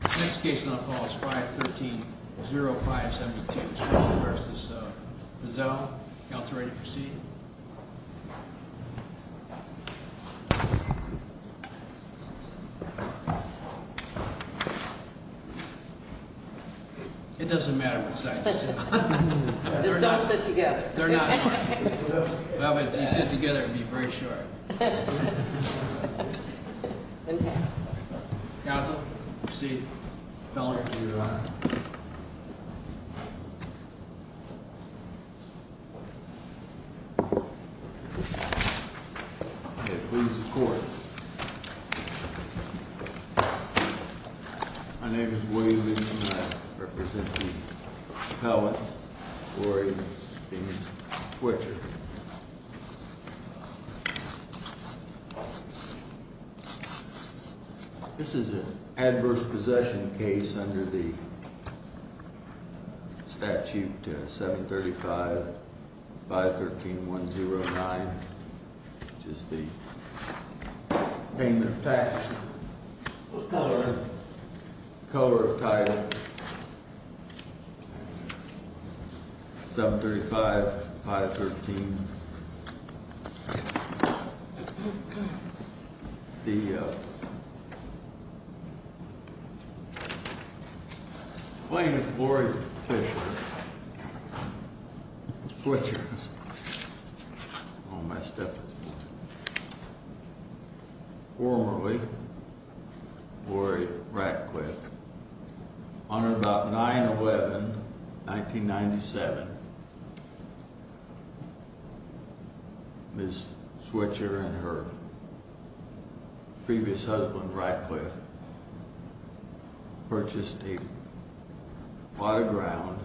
Next case on the floor is 513-0572, Schroeder v. Fearzel. Counselor, are you ready to proceed? It doesn't matter which side you sit on. Just don't sit together. They're not in harmony. Well, if you sit together, it would be very short. Okay. Counsel, proceed. Feller, to your right. Okay, please report. My name is William E. Schneider, representing Feller. Gloria is being switched. This is an adverse possession case under the statute 735-513-109, which is the payment of tax. What color is it? The color of the title is 735-513-109. My name is Lori Fisher. I'm being switched. Oh, my step is forward. Formerly Lori Ratcliffe. On or about 9-11-1997, Ms. Switzer and her previous husband Ratcliffe purchased a plot of ground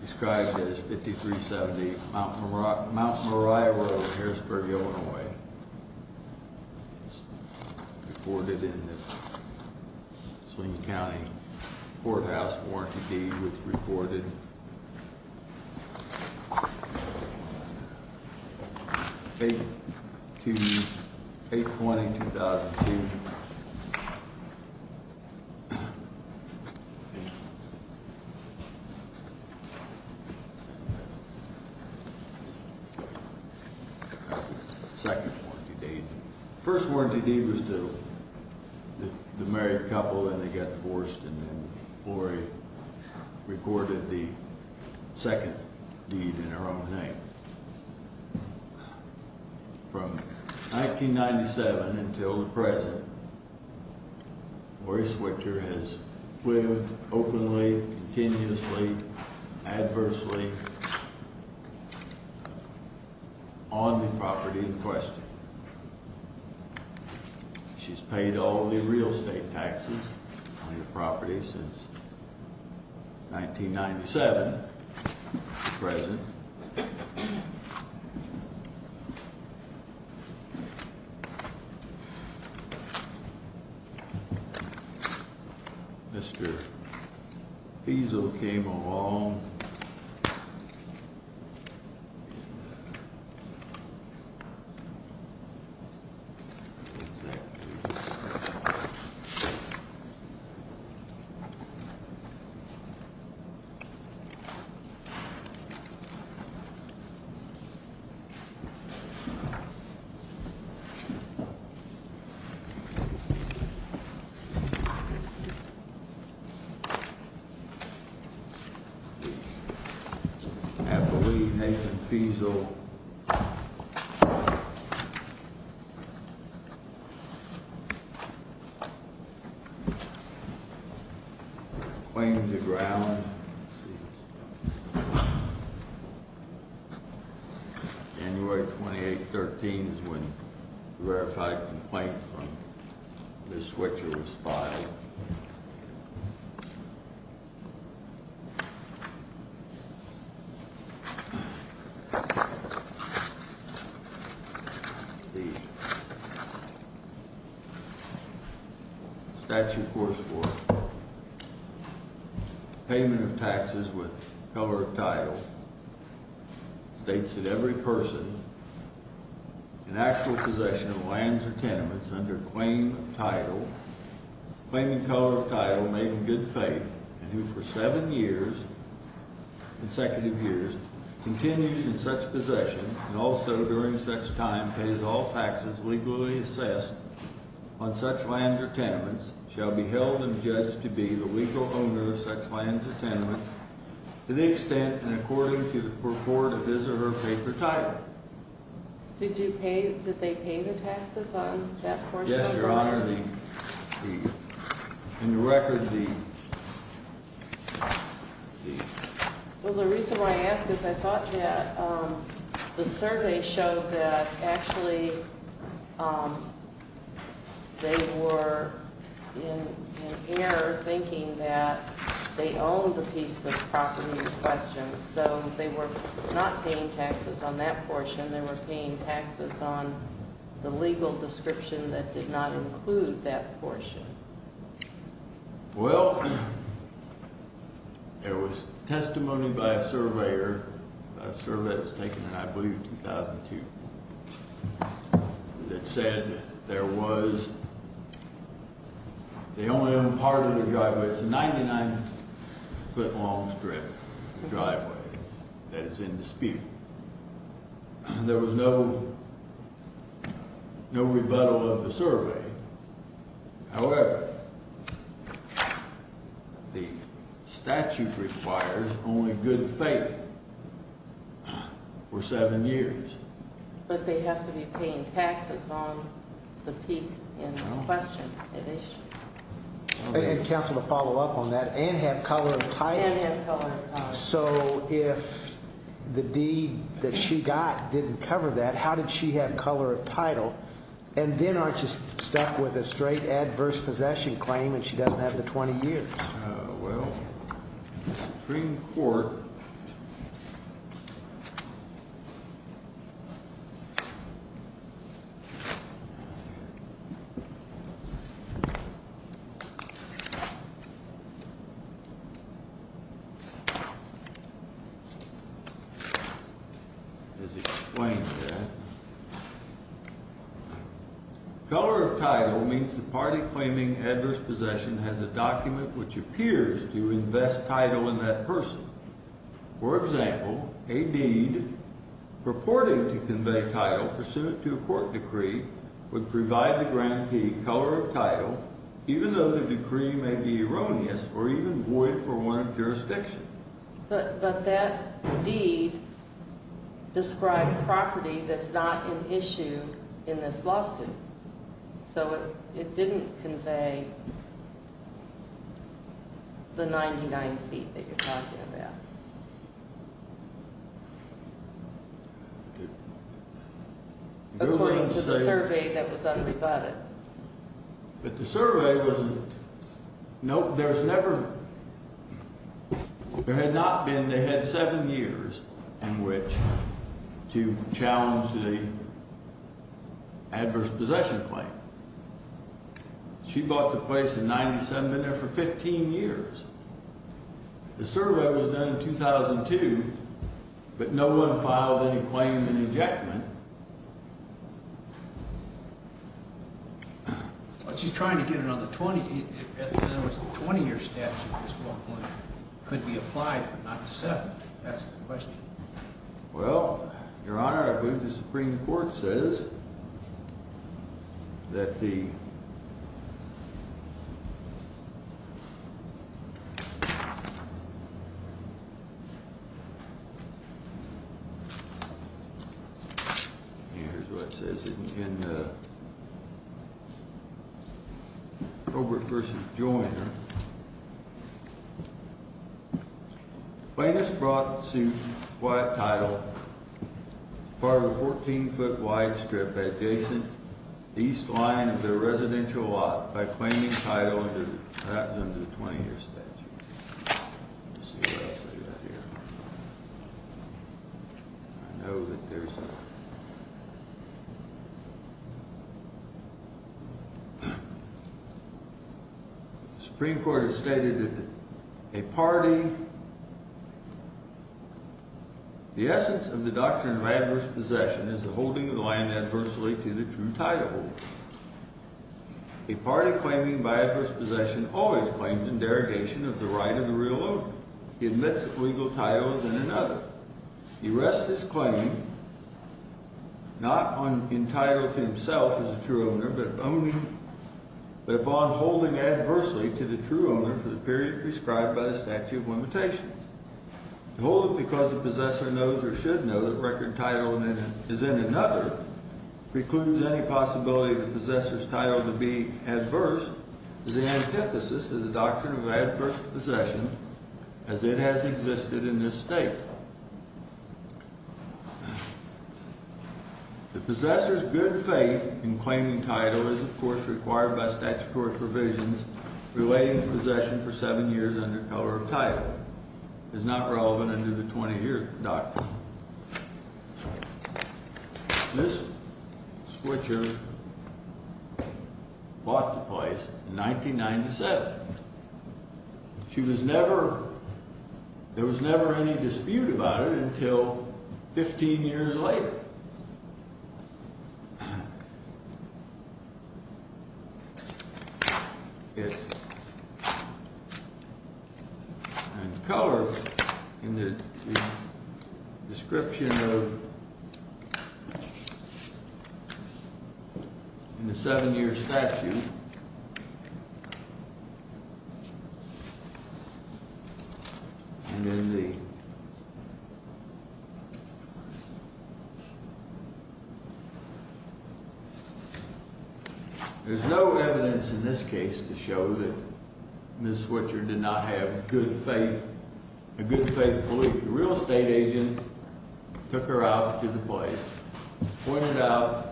described as 5378 Mount Moriah Road, Harrisburg, Illinois. It's reported in the Sling County Courthouse Warranty Deed. It's reported 8-20-2002. That's the second warranty deed. The first warranty deed was to the married couple, and they got divorced, and then Lori recorded the second deed in her own name. From 1997 until the present, Lori Switzer has lived openly, continuously, adversely on the property in question. She's paid all the real estate taxes on the property since 1997 to present. Mr. Feasel came along. I believe Nathan Feasel claimed the ground. January 28-13 is when the verified complaint from Ms. Switzer was filed. The statute, of course, for payment of taxes with color of title states that every person in actual possession of lands or tenements under claim of title, claiming color of title, made in good faith, and who for seven years, consecutive years, continues in such possession, and also during such time pays all taxes legally assessed on such lands or tenements, shall be held and judged to be the legal owner of such lands or tenements to the extent and according to the purport of his or her paper title. Did they pay the taxes on that portion? Yes, Your Honor. In the record, the deed. Well, the reason why I ask is I thought that the survey showed that actually they were in error thinking that they owned the piece of property in question. So they were not paying taxes on that portion. They were paying taxes on the legal description that did not include that portion. Well, there was testimony by a surveyor, a survey that was taken in, I believe, 2002, that said there was, they only owned part of the driveway. It's a 99-foot long strip driveway that is in dispute. There was no rebuttal of the survey. However, the statute requires only good faith for seven years. But they have to be paying taxes on the piece in question. And counsel, to follow up on that, and have color of title. And have color of title. So if the deed that she got didn't cover that, how did she have color of title? And then aren't you stuck with a straight adverse possession claim and she doesn't have the 20 years? Well, Supreme Court. Has explained that. Color of title means the party claiming adverse possession has a document which appears to invest title in that person. For example, a deed purporting to convey title pursuant to a court decree would provide the grantee color of title, even though the decree may be erroneous or even void for warrant of jurisdiction. But that deed described property that's not an issue in this lawsuit. So it didn't convey the 99 feet that you're talking about. According to the survey that was unrebutted. But the survey wasn't. No, there's never. There had not been. They had seven years in which to challenge the. Adverse possession claim. She bought the place in 97 there for 15 years. The survey was done in 2002. But no one filed any claim in the Jackman. She's trying to get another 20 20 year statute. Could be applied. That's the question. Well, Your Honor, I believe the Supreme Court says. That the. Yeah. Here's what it says in the. Robert versus joy. Your Honor. Play this brought to quiet title. Part of the 14 foot wide strip adjacent east line of the residential lot by claiming title under the 20 year statute. I know that there's. Supreme Court has stated that a party. The essence of the doctrine of adverse possession is the holding of the land adversely to the true title. A party claiming by adverse possession always claims in derogation of the right of the real owner. He admits legal titles in another. He rests his claim. Not on entitled to himself as a true owner, but only. Upon holding adversely to the true owner for the period prescribed by the statute of limitations. Hold it because the possessor knows or should know that record title is in another precludes any possibility of the possessor's title to be adverse. The antithesis of the doctrine of adverse possession. As it has existed in this state. Title. The possessor's good faith in claiming title is, of course, required by statutory provisions relating to possession for seven years under color of title. Is not relevant under the 20 year doc. This. Switcher. Walk the place in 1997. She was never. There was never any dispute about it until 15 years later. Color. Description. In the seven year statute. And then the. There's no evidence in this case to show that. Ms. Switcher did not have good faith. A good faith belief. Real estate agent. Took her out to the place. Pointed out.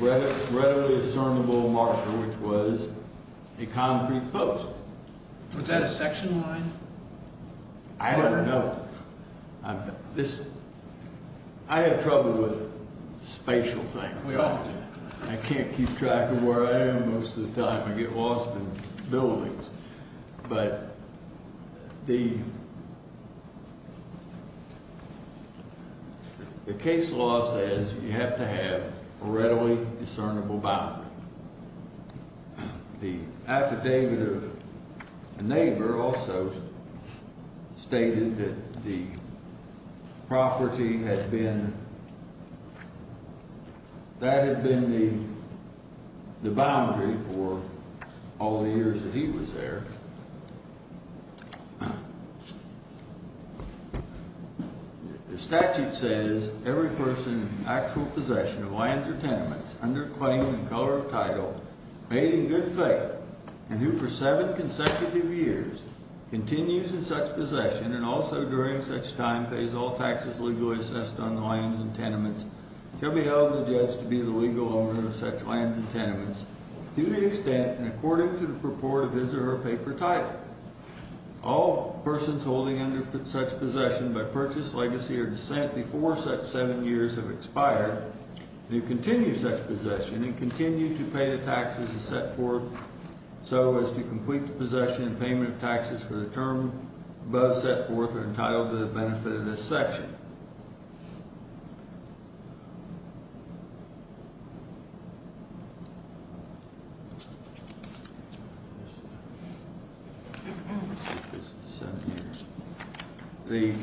Readily discernible marker, which was. A concrete post. Was that a section line? I don't know. This. I have trouble with. Spatial thing. I can't keep track of where I am. Most of the time I get lost in buildings. But. The. The case law says you have to have a readily discernible. The. Neighbor also. Stated that. Property had been. That had been the. The boundary for. All the years that he was there. The. Statute says. Every person. Actual possession of land. Under claim. Color of title. Made in good faith. And who for seven consecutive years. Continues in such possession. And also during such time. Pays all taxes. Legally assessed on the lines and tenements. Can be held. The judge to be the legal owner. Of such lands and tenements. To the extent. And according to the purport. Is there a paper title? All persons holding. Under such possession. By purchase legacy or descent. Before such seven years have expired. You continue such possession. And continue to pay the taxes. Is set forth. So as to complete the possession. And payment of taxes for the term. Both set forth are entitled. To the benefit of this section. The.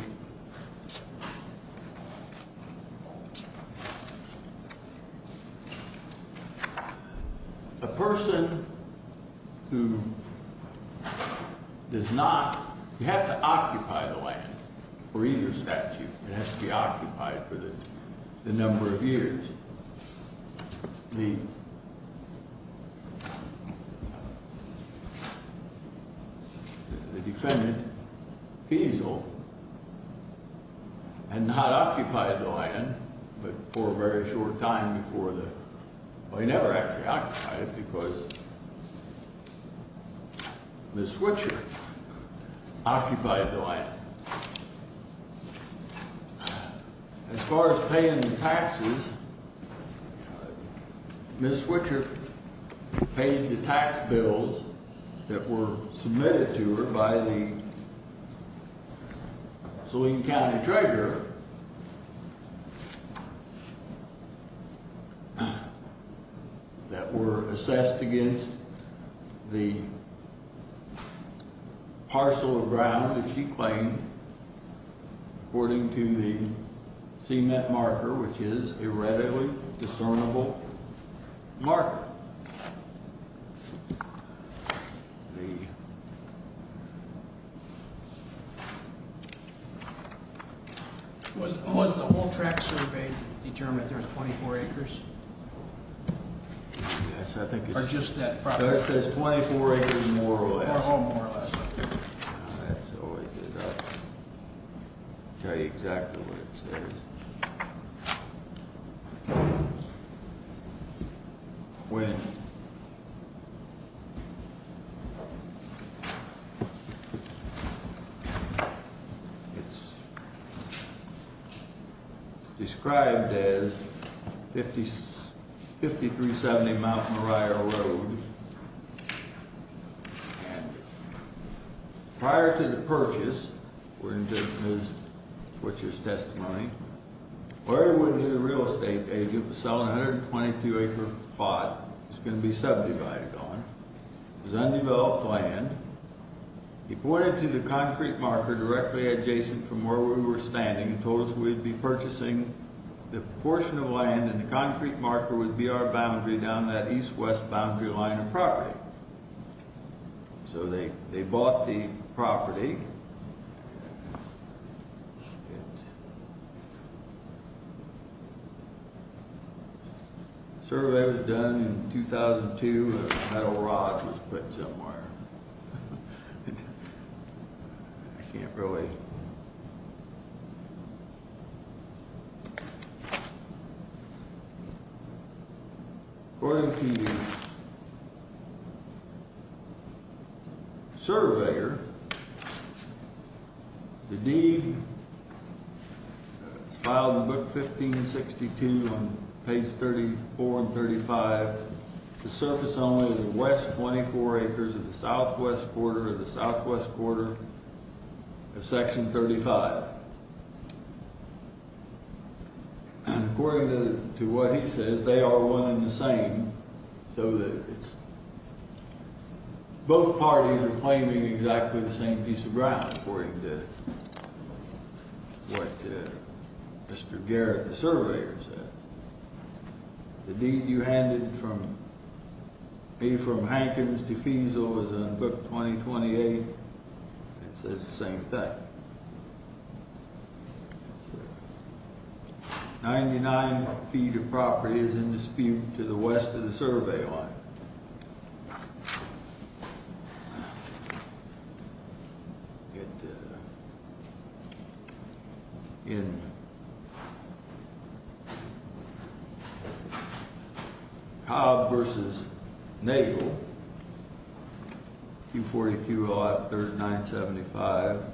A person. Who. Is not. You have to occupy the land. For either statute. It has to be occupied for the. The number of years. The. Defendant. He's old. And not occupied the land. But for a very short time. Before the. I never actually. Because. The switcher. Occupied the land. As far as paying the taxes. Ms. Which are. Paying the tax bills. That were. Submitted to her. By the. So we can count the treasure. That were assessed against. The. Parcel of ground. That she claimed. According to the. Scene that marker. Which is a readily. Discernible. Mark. The. Was. The whole track survey. Determined. There's 24 acres. I think. Just that. Says 24. More or less. Exactly. What it says. When. It's. Described. As. 50. 5370. Mount. Mariah. Prior. To the. Purchase. We're. Which is. Or. Pot. It's going to be. Subdivided. On. The. Undeveloped. Land. And. The. The. The. The. Undeveloped. Land. He pointed to the. Concrete marker. Directly adjacent. From where. We were standing and told us. We'd be purchasing. The portion of land. And the concrete marker. Would be our. Boundary down the east. West. Boundary line. Of property. So, they, they bought the. Property. It. Survey. Was done. In 2002. A metal rod. Was put somewhere. I can't really. According to. The. Surveyor. The. Dean. Filed in book 15 and 62. Land. Is. The land. Is. The land. Is. The land. Is. The land. Is. The land. Is. The land. And I can. How long ago. Only the West. What do you know. Esports and the. Section thirty five. Four years. Two 18. They are one. In the. The. Both. Parties are playing. An exact. Thank you for that. This. Garen. Service. The dean. You handed. From. A. From. Hankins to. Feasel. Book. Twenty. Twenty. Eight. It says. The same thing. Ninety. Nine. Feet. Of property. Is in dispute. To the West. Of the survey. Line. It. In. The seventh. Versus then. You 40. To. The.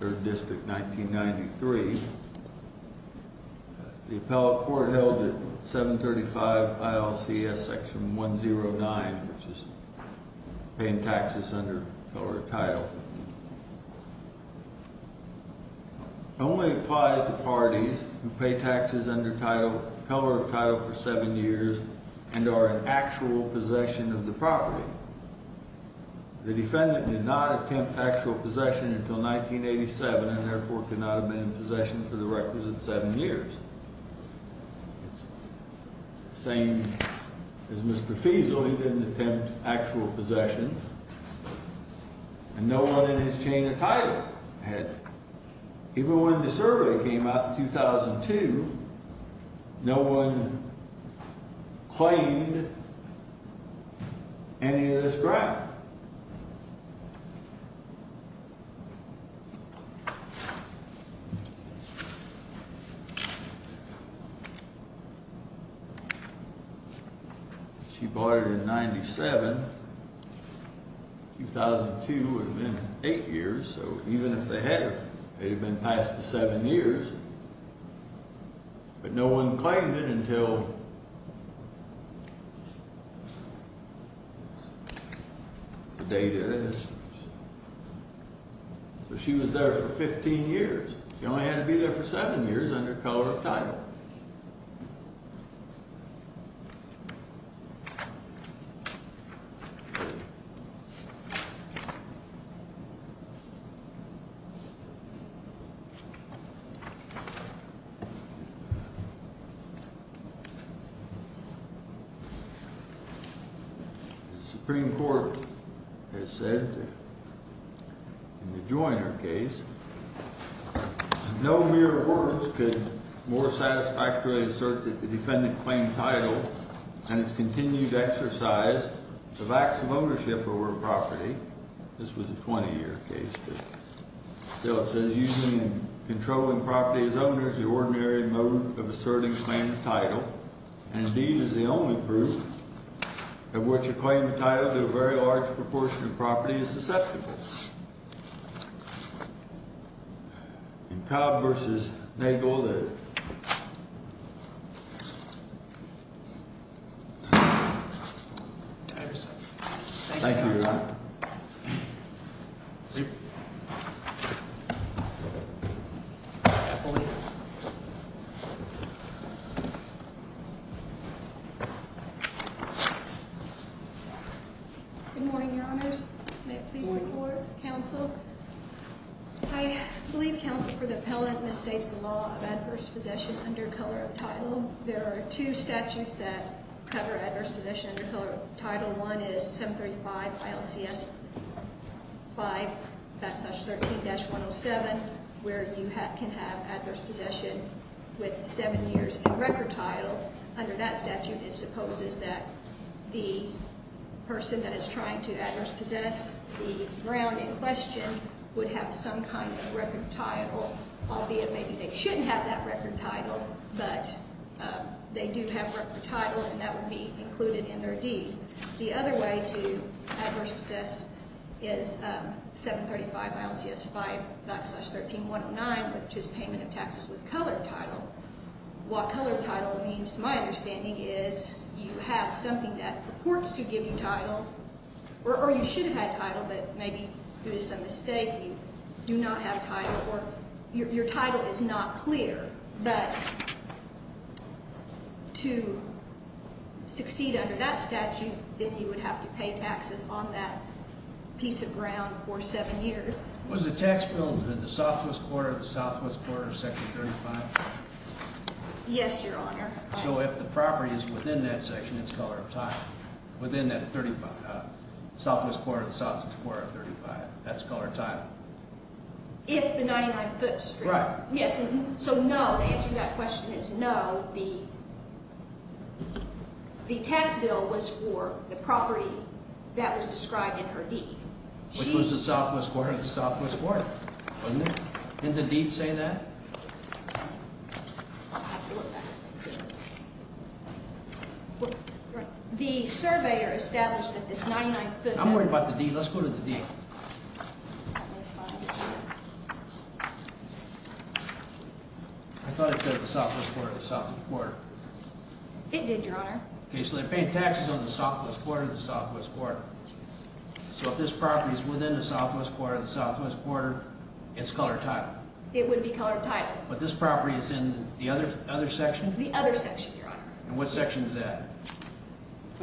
Third discharge. Nine. Three. The pill apartment. 175. OSC. Johnson. Is 10. Nine. The taxes. The 1. Control trip with the! Only applies. Hey, Texas under title. For seven years and are in actual possession. Property. The defendant did not. Communication. 1987. Possession for the record. Seven years. Same. As Mr. Feasel. Actual possession. No one in his chain of title. Even when the survey came out. 2002. No one. Claimed. Any of this ground. She bought it in 97. 2002. Eight years. So even if they had. It had been past the seven years. No one. Until. Data. She was there for 15 years. You know, I had to be there for seven years. Undercover. Supreme court. I said. Joiner case. No, we're. More satisfactory. Defendant claim title. And it's continued exercise. Ownership over property. This was a 20 year case. The. Controlling property. Ordinary. Asserting. Title. And. The only group. Of what you claim. Very large. Proportion of property is susceptible. Converses. They go there. Thank you. Good morning, your honors. Council. I believe council for the pellet mistakes. The law of adverse possession under color of title. There are two statutes that. Cover adverse possession. Title one is 735. Yes. Five. That's such 13 dash 107. Where you have can have adverse possession. With seven years record title. Under that statute, it supposes that. The. Person that is trying to adverse possess. The brown in question. Would have some kind of record title. I'll be it. Maybe they shouldn't have that record title. But. They do have work for title. And that would be included in their deed. The other way to. Adverse possess. Is 735 miles. Yes. Five. 13109, which is payment of taxes with color title. What color title means to my understanding is. You have something that purports to give you title. Or you should have had title, but maybe. It was a mistake. Do not have time. Your title is not clear. But. To. Succeed under that statute. That you would have to pay taxes on that. Piece of ground for seven years. Was the tax bill in the southwest quarter of the southwest quarter. Section 35. Yes, your honor. So, if the property is within that section, it's color of time. Within that 35. Southwest quarter of the southwest quarter of 35. That's color time. If the 99 foot straight. Yes. So, no, the answer to that question is no. The. The tax bill was for the property. That was described in her deed. Which was the southwest quarter of the southwest quarter. Wasn't it? And the deed say that. I have to look back. The surveyor established that this 99 foot. I'm worried about the D. Let's go to the D. I thought it said the southwest quarter of the southwest quarter. It did, your honor. Okay, so they're paying taxes on the southwest quarter of the southwest quarter. So, if this property is within the southwest quarter of the southwest quarter. It's color time. It would be color time. But this property is in the other section. The other section. And what section is that?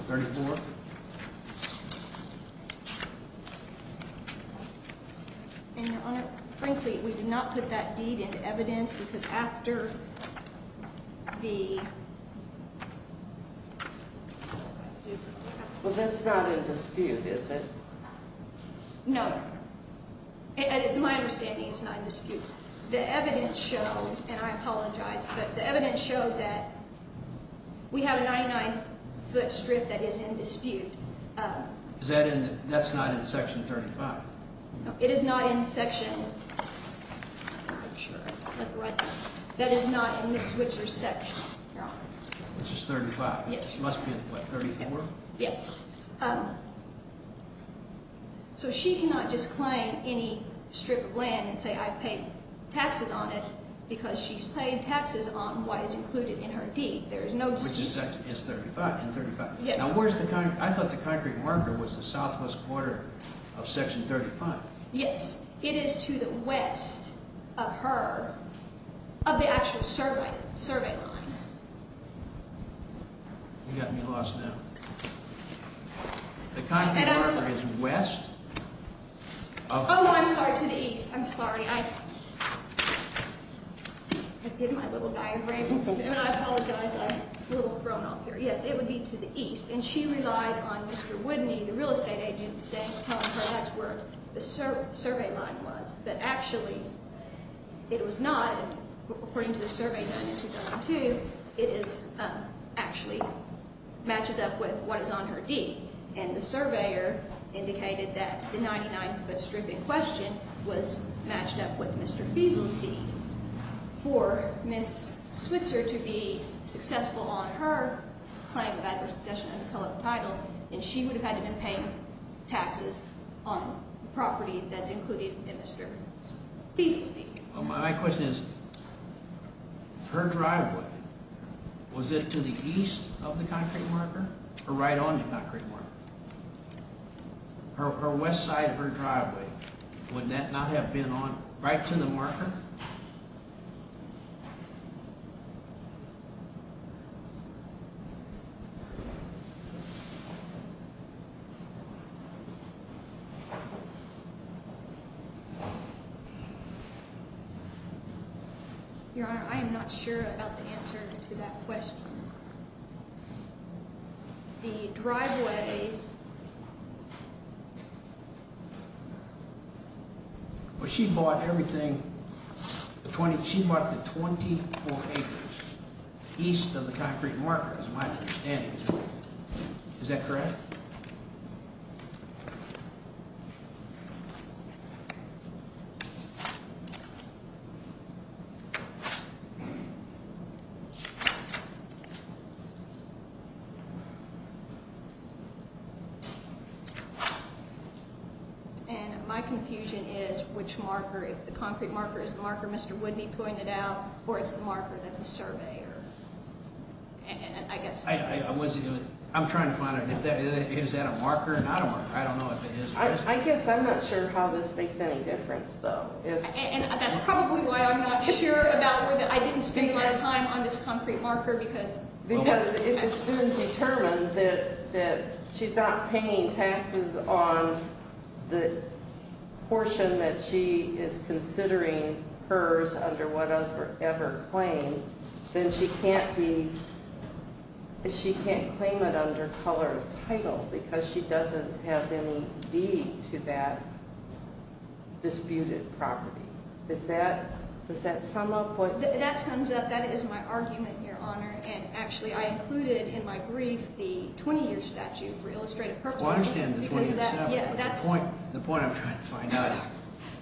34. And your honor, frankly, we did not put that deed into evidence because after. The. Well, that's not in dispute, is it? No. And it's my understanding it's not in dispute. The evidence showed, and I apologize, but the evidence showed that. We have a 99 foot strip that is in dispute. Is that in that's not in section 35. It is not in section. That is not in the switcher section. It's just 35. It must be 34. Yes. So, she cannot just claim any strip of land and say, I paid taxes on it. Because she's paying taxes on what is included in her deed. There's no. It's 35 and 35. Now, where's the concrete? I thought the concrete marker was the southwest quarter. Of section 35. Yes, it is to the west. Of her. Of the actual survey. Survey. You got me lost now. The concrete marker is west. Oh, I'm sorry to the east. I'm sorry. I did my little diagram. And I apologize. I'm a little thrown off here. Yes, it would be to the east. And she relied on Mr. Woodney, the real estate agent, saying. Telling her that's where the survey line was. But actually. It was not. According to the survey done in 2002. It is actually. Matches up with what is on her deed. And the surveyor indicated that the 99 foot strip in question. Was matched up with Mr. Beasley's deed. For Miss Switzer to be successful on her. Claim of adverse possession title. And she would have had to been paying. Taxes. On the property that's included in Mr. Beasley. My question is. Her driveway. Was it to the east of the concrete marker. Or right on the concrete. Her west side of her driveway. Would that not have been on. Right to the marker. Your honor, I am not sure about the answer to that question. The driveway. Well, she bought everything. She bought the 24 acres. East of the concrete market is my understanding. Is that correct? Yeah. And my confusion is which marker. If the concrete marker is the marker, Mr. Would be pointed out. Or it's the marker that the surveyor. And I guess I wasn't doing. I'm trying to find it. Is that a marker? And I don't know. I don't know if it is. I guess I'm not sure how this makes any difference though. And that's probably why I'm not sure about that. I didn't spend a lot of time on this concrete marker because. Because it's been determined that. She's not paying taxes on. The. Portion that she is considering. Hers under whatever ever claim. Then she can't be. She can't claim it under color of title. Because she doesn't have any deed to that. Disputed property. Is that. Does that sum up what that sums up? That is my argument. Your honor. And actually, I included in my brief. The 20 year statute for illustrative purposes. The point I'm trying to find out.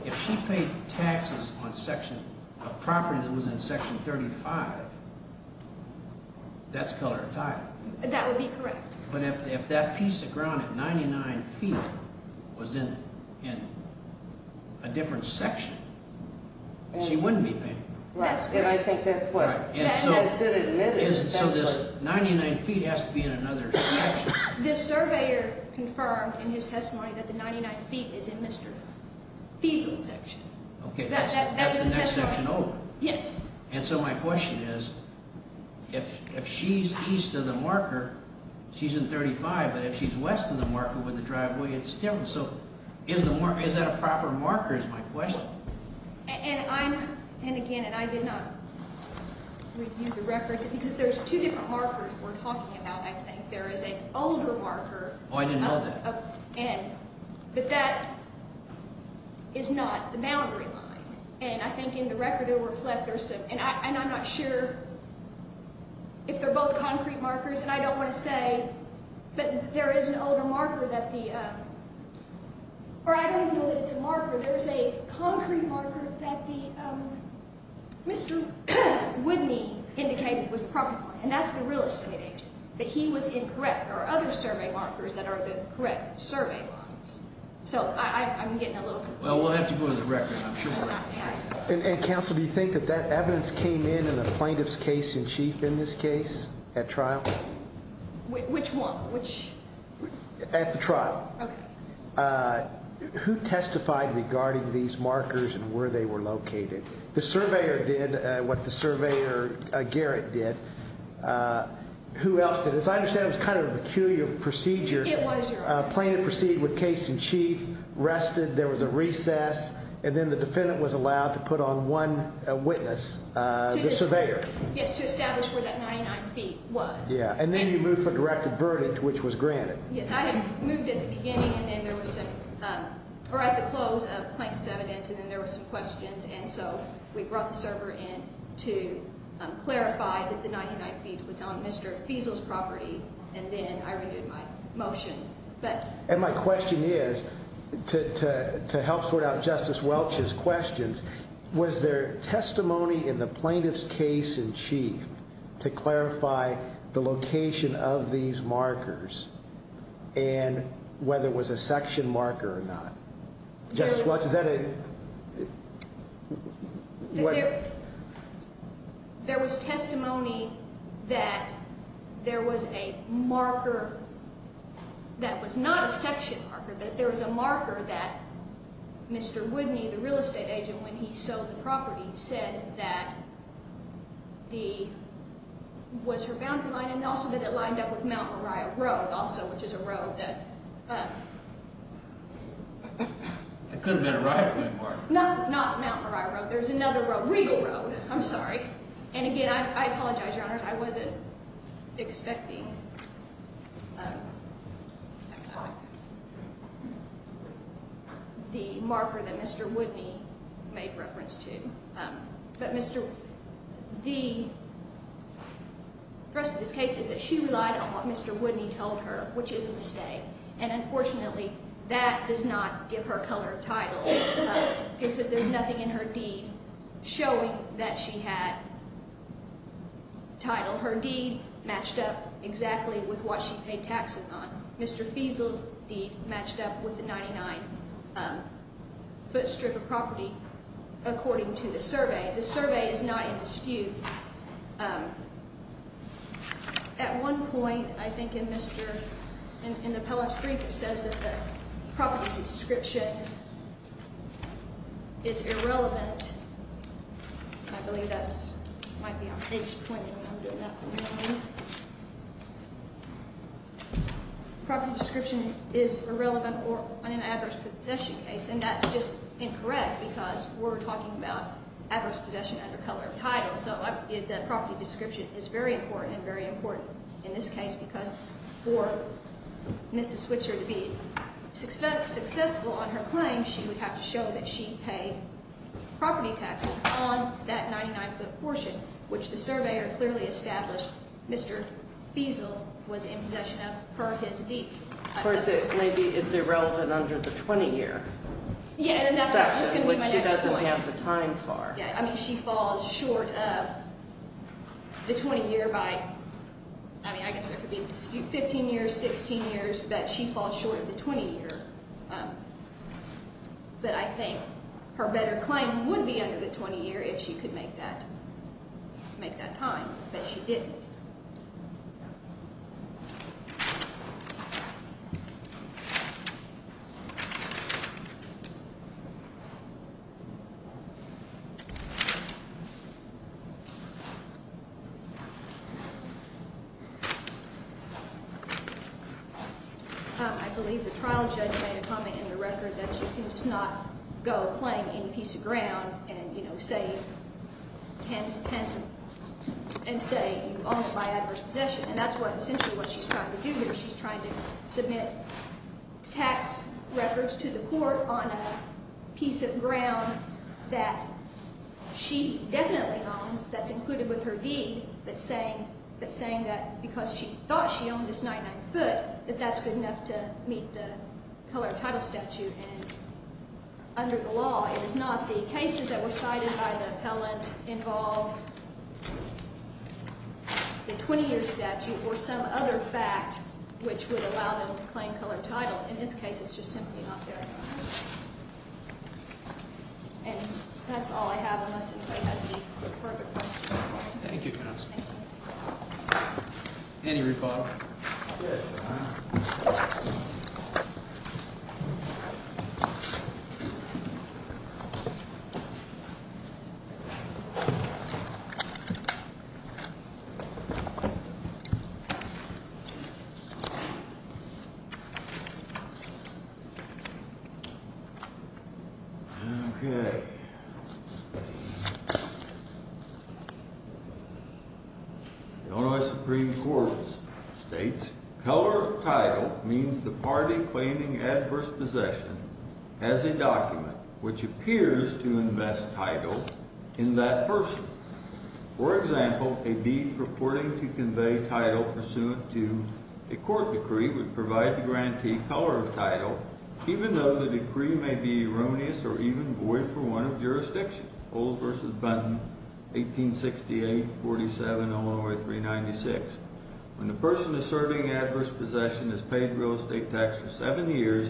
If she paid taxes on section. A property that was in section 35. That's color of title. That would be correct. But if that piece of ground at 99 feet. Was in. A different section. She wouldn't be paying. And I think that's what. So this 99 feet has to be in another. This surveyor. Confirmed in his testimony that the 99 feet is in Mr. Feasel section. Okay. Yes. And so my question is. If she's east of the marker. She's in 35. But if she's west of the marker with the driveway. It's different. So is the market. Is that a proper marker? Is my question. And I'm. And again. And I did not. Review the record. Because there's two different markers. We're talking about. I think there is an older marker. Oh, I didn't know that. And. But that. Is not the boundary line. And I think in the record. It will reflect. And I'm not sure. If they're both concrete markers. And I don't want to say. But there is an older marker. That the. Or I don't even know that it's a marker. There's a concrete marker. That the. Mr. Whitney. Indicated was probably. And that's the real estate agent. That he was incorrect. There are other survey markers. That are the correct. Survey lines. So. I'm getting a little. Well, we'll have to go to the record. I'm sure. And counsel. Do you think that that evidence. Came in. In a plaintiff's case. In chief. In this case. At trial. Which one. Which. At the trial. Okay. Who testified. Regarding these markers. And where they were located. The surveyor did. What the surveyor. Garrett did. Who else did. As I understand. It was kind of a peculiar. Procedure. It was your. Plaintiff. Proceeded with case in chief. Rested. There was a recess. And then the defendant was allowed. To put on one. Witness. The surveyor. Yes. To establish. Where that 99 feet. Was. Yeah. And then you move. For directed. Burden. Which was granted. Yes. I had moved. At the beginning. And then there was some. Or at the close. Of plaintiff's evidence. And then there was some questions. And so. We brought the server in. To. Clarify. That the 99 feet. Was on Mr. Feasel's property. And then I renewed. My motion. But. And my question is. To. To. The plaintiff's witness. In chief. To clarify. The location. Of these markers. And. Whether it was a section. Marker or not. Just watch. Is that a. There. There was testimony. That. There was a. Marker. That was not a section. Marker. That there was a marker. That. Mr. Whitney. The real estate agent. When he sold. The property. Said that. The. Was her. Boundary line. And also. That it lined up. With Mount. Mariah. Road. Also. Which is a road. That. Could have been. Right. Not. Not Mount. Mariah. Road. There's another road. Regal Road. I'm sorry. And again. I apologize. Your honor. I wasn't. Expecting. The marker. That Mr. Whitney. Made reference to. But Mr. The. Rest of this case. Is that she relied on. What Mr. Whitney told her. Which is a mistake. And unfortunately. That does not. Give her color. Title. Because there's nothing in her deed. Showing. That she had. Title. Her deed. Exactly. With what she paid taxes on. Mr. Feasel's deed. Matched up. With the 99. Footstrip of property. That she had. According to the survey. The survey. Is not in dispute. At one point. I think. In Mr. In the pellets. Three. Says that. Property. Description. Is irrelevant. I believe. That's. Might be on page. 20. I'm doing that. Property. Description. Is irrelevant. Or an adverse. Possession case. And that's just. Incorrect. Because we're talking about. Adverse. Possession. Under color. Title. So. The property. Description. Is very important. And very important. In this case. Because for. Mrs. Switzer. To be. Successful. On her claim. She would have to show. That she paid. Property taxes. On that. 99. Foot portion. Which the survey. Are clearly established. Mr. Feasel. Was in possession. Of her. Property taxes. On his deed. Of course. It may be. It's irrelevant. Under the 20 year. Yeah. And that's. What she doesn't have. The time for. Yeah. I mean. She falls short of. The 20 year. By. I mean. I guess there could be. 15 years. 16 years. That she falls short. Of the 20 year. But I think. Her better claim. Would be under. The 20 year. If she could make that. Make that time. But she didn't. I believe. The trial. Judge. Made a comment. In the record. That you. Can just not. Go. Claim. Any piece of ground. Also. Are not. You. Are not. You. Are not. You. Are not. You. Are not. You. Are not. You. Are not. You. Server, please. And what. It's not. Simple. To submit. Task strike. To the court. Are. Peace in. That. She. Definitely. That's included. Say it's. Saying that because she. Think that that's good enough to. The inhaler title statutes. Under the law. It is not the cases that were cited by the appellant. Involve. The 20 year statute or some other fact. Which would allow them to claim color title. In this case, it's just simply not there. And that's all I have. Thank you. Any rebuttal. Thank you. Thank you. Thank you. Thank you. Okay. Okay. Okay. Okay. Okay. Okay. Okay. Okay. Okay. Okay. Okay. The Supreme Court. States. Color of title. Means the party claiming adverse. Possession. As a document. Which appears. To invest. Title. In that person. For example. A deed. Purporting to convey. Title. Pursuant to. A court decree. Would provide. The grantee. Color of title. Even though. The decree. May be erroneous. Or even. Void for one. Of jurisdiction. Old versus. Benton. 1868. 47. Illinois. 396. When the person. Is serving. Adverse possession. Is paid. Real estate tax. For seven years.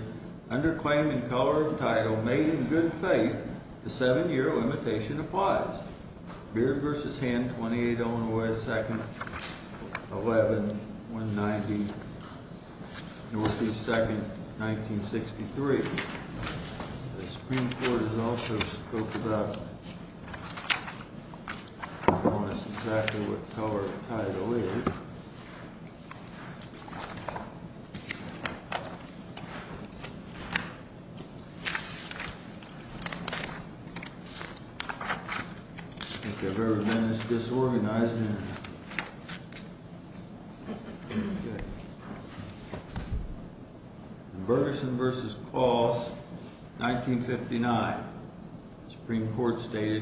Under claim. In color. Of title. Made in good faith. The seven year. Limitation applies. Beard versus hand. 28. Illinois. Second. 11. 190. Northeast. Second. 1963. The Supreme Court. Has also. Spoke about. Bonus. Exactly. What color. Of title. Is. I. Think. I've. Ever. Been. This. Disorganized. In. Berguson. Versus. Clause. 1959. Supreme Court. The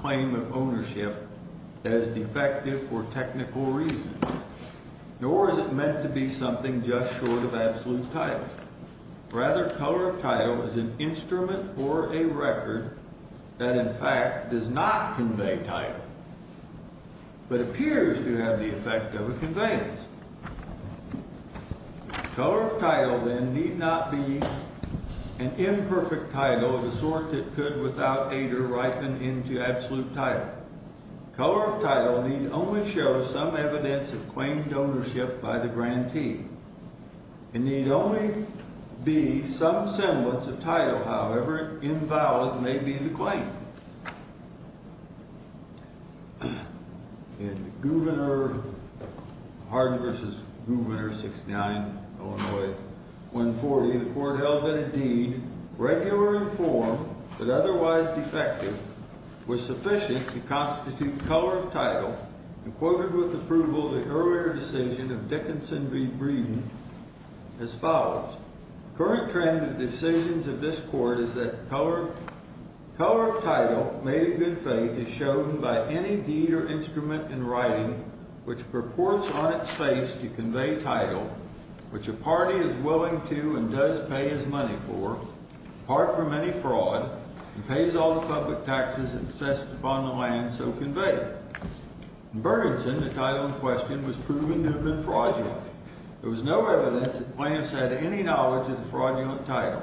claim. Of ownership. That is. Defective. For two years. In color. Of title. Is not. The claim. Of ownership. That is. Necessary. For technical reasons. Nor. Is it. Meant to be something just. Short of. Absolute. Title. Rather. Color of title. Is an instrument. Or a. Record. That in fact. Is not. Conveyed. Title. But appears. To have the effect. Of conveyance. Color. Of title. Then. Need not. Be. An imperfect. Title. Of the sort. It could without. Aider. Ripen. Into. Absolute. Title. Color. Of title. Need. Only. Show. Some. Evidence. Of. Claimed. Ownership. By. The grantee. It need. Only. Be. Some. Semblance. Of title. However. Invalid. May be. The claim. In. Gouverneur. Harden. Versus. Gouverneur. Six. Nine. One. Forty. The court held. That indeed. Regular. Form. But otherwise. Defective. Was sufficient. To constitute. Color. Of title. Equivalent. With approval. The earlier. Decision. Of Dickinson. Be. Breeding. As follows. Current trend. Decisions. Of this court. Is that color. Color. Of title. May be. Good faith. Is shown. By. Any deed. Or instrument. In writing. Which purports. On its face. To convey. Title. Which a party. Is willing. To. And does. Pay. As money. For. Part. For many. Fraud. And pays. All the public. Taxes. And assessed. Upon the land. So convey. Burdensome. The title. In question. Was proven. To have been fraudulent. There was no evidence. That plaintiffs. Had any knowledge. Of the fraudulent. Title.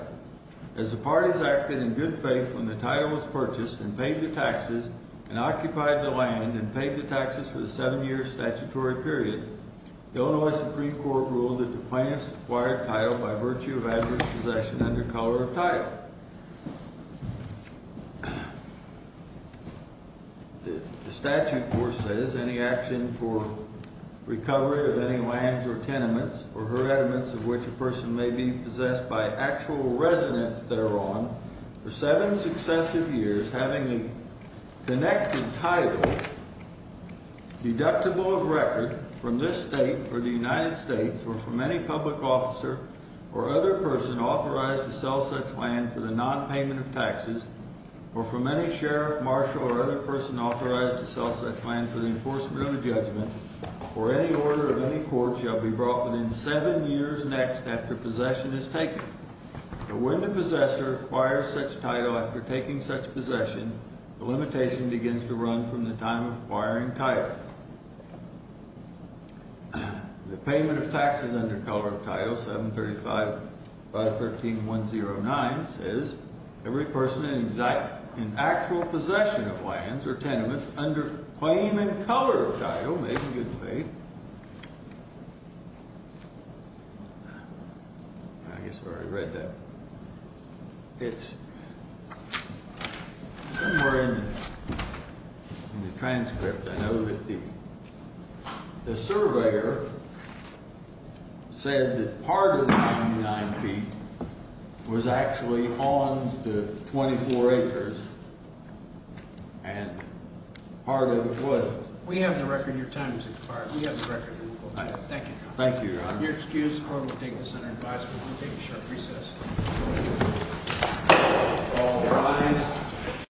As the parties acted. In good faith. When the title. Was purchased. And paid the taxes. And occupied the land. And paid the taxes. For the seven years. Statutory period. Illinois Supreme Court. Ruled. That the plaintiffs. Acquired title. By virtue of adverse. Possession. Under color. Of title. All right. The statute. Of course. Says. Any action. For. Recovery. Of any land. Or tenements. Or hereditaments. Of which a person. May be. Possessed. By actual. Residents. Thereon. For seven. Successive years. Having a. Connected title. Deductible. Of record. From this state. Or the United States. Or from any public. Officer. Or other person. Authorized. To sell such land. For the nonpayment. Of taxes. Or from any sheriff. Marshal. Or other person. Authorized. To sell such land. For the enforcement. Of a judgment. Or any order. Of any court. Shall be brought. Within seven years. Next. After possession. Is taken. But when. The possessor. Acquires such title. After taking. Such possession. The limitation. Begins to run. From the time. Of acquiring title. The payment. Of taxes. Under color. Of title. 735. 513. 109. Says. Every person. In exact. In actual. Possession. Of lands. Or tenements. Under claim. In color. Of title. Make a good faith. I guess. I've already read that. It's. Somewhere. In the. In the transcript. I know. That the. The surveyor. Said. That part. Of the. 9 feet. Was actually. On. The 24. Acres. And. Part of. It was. We have the record. Your time. Is required. We have the record. Thank you. Thank you. Your excuse. Or. Take the center. Advice. We're going to take a short. Recess.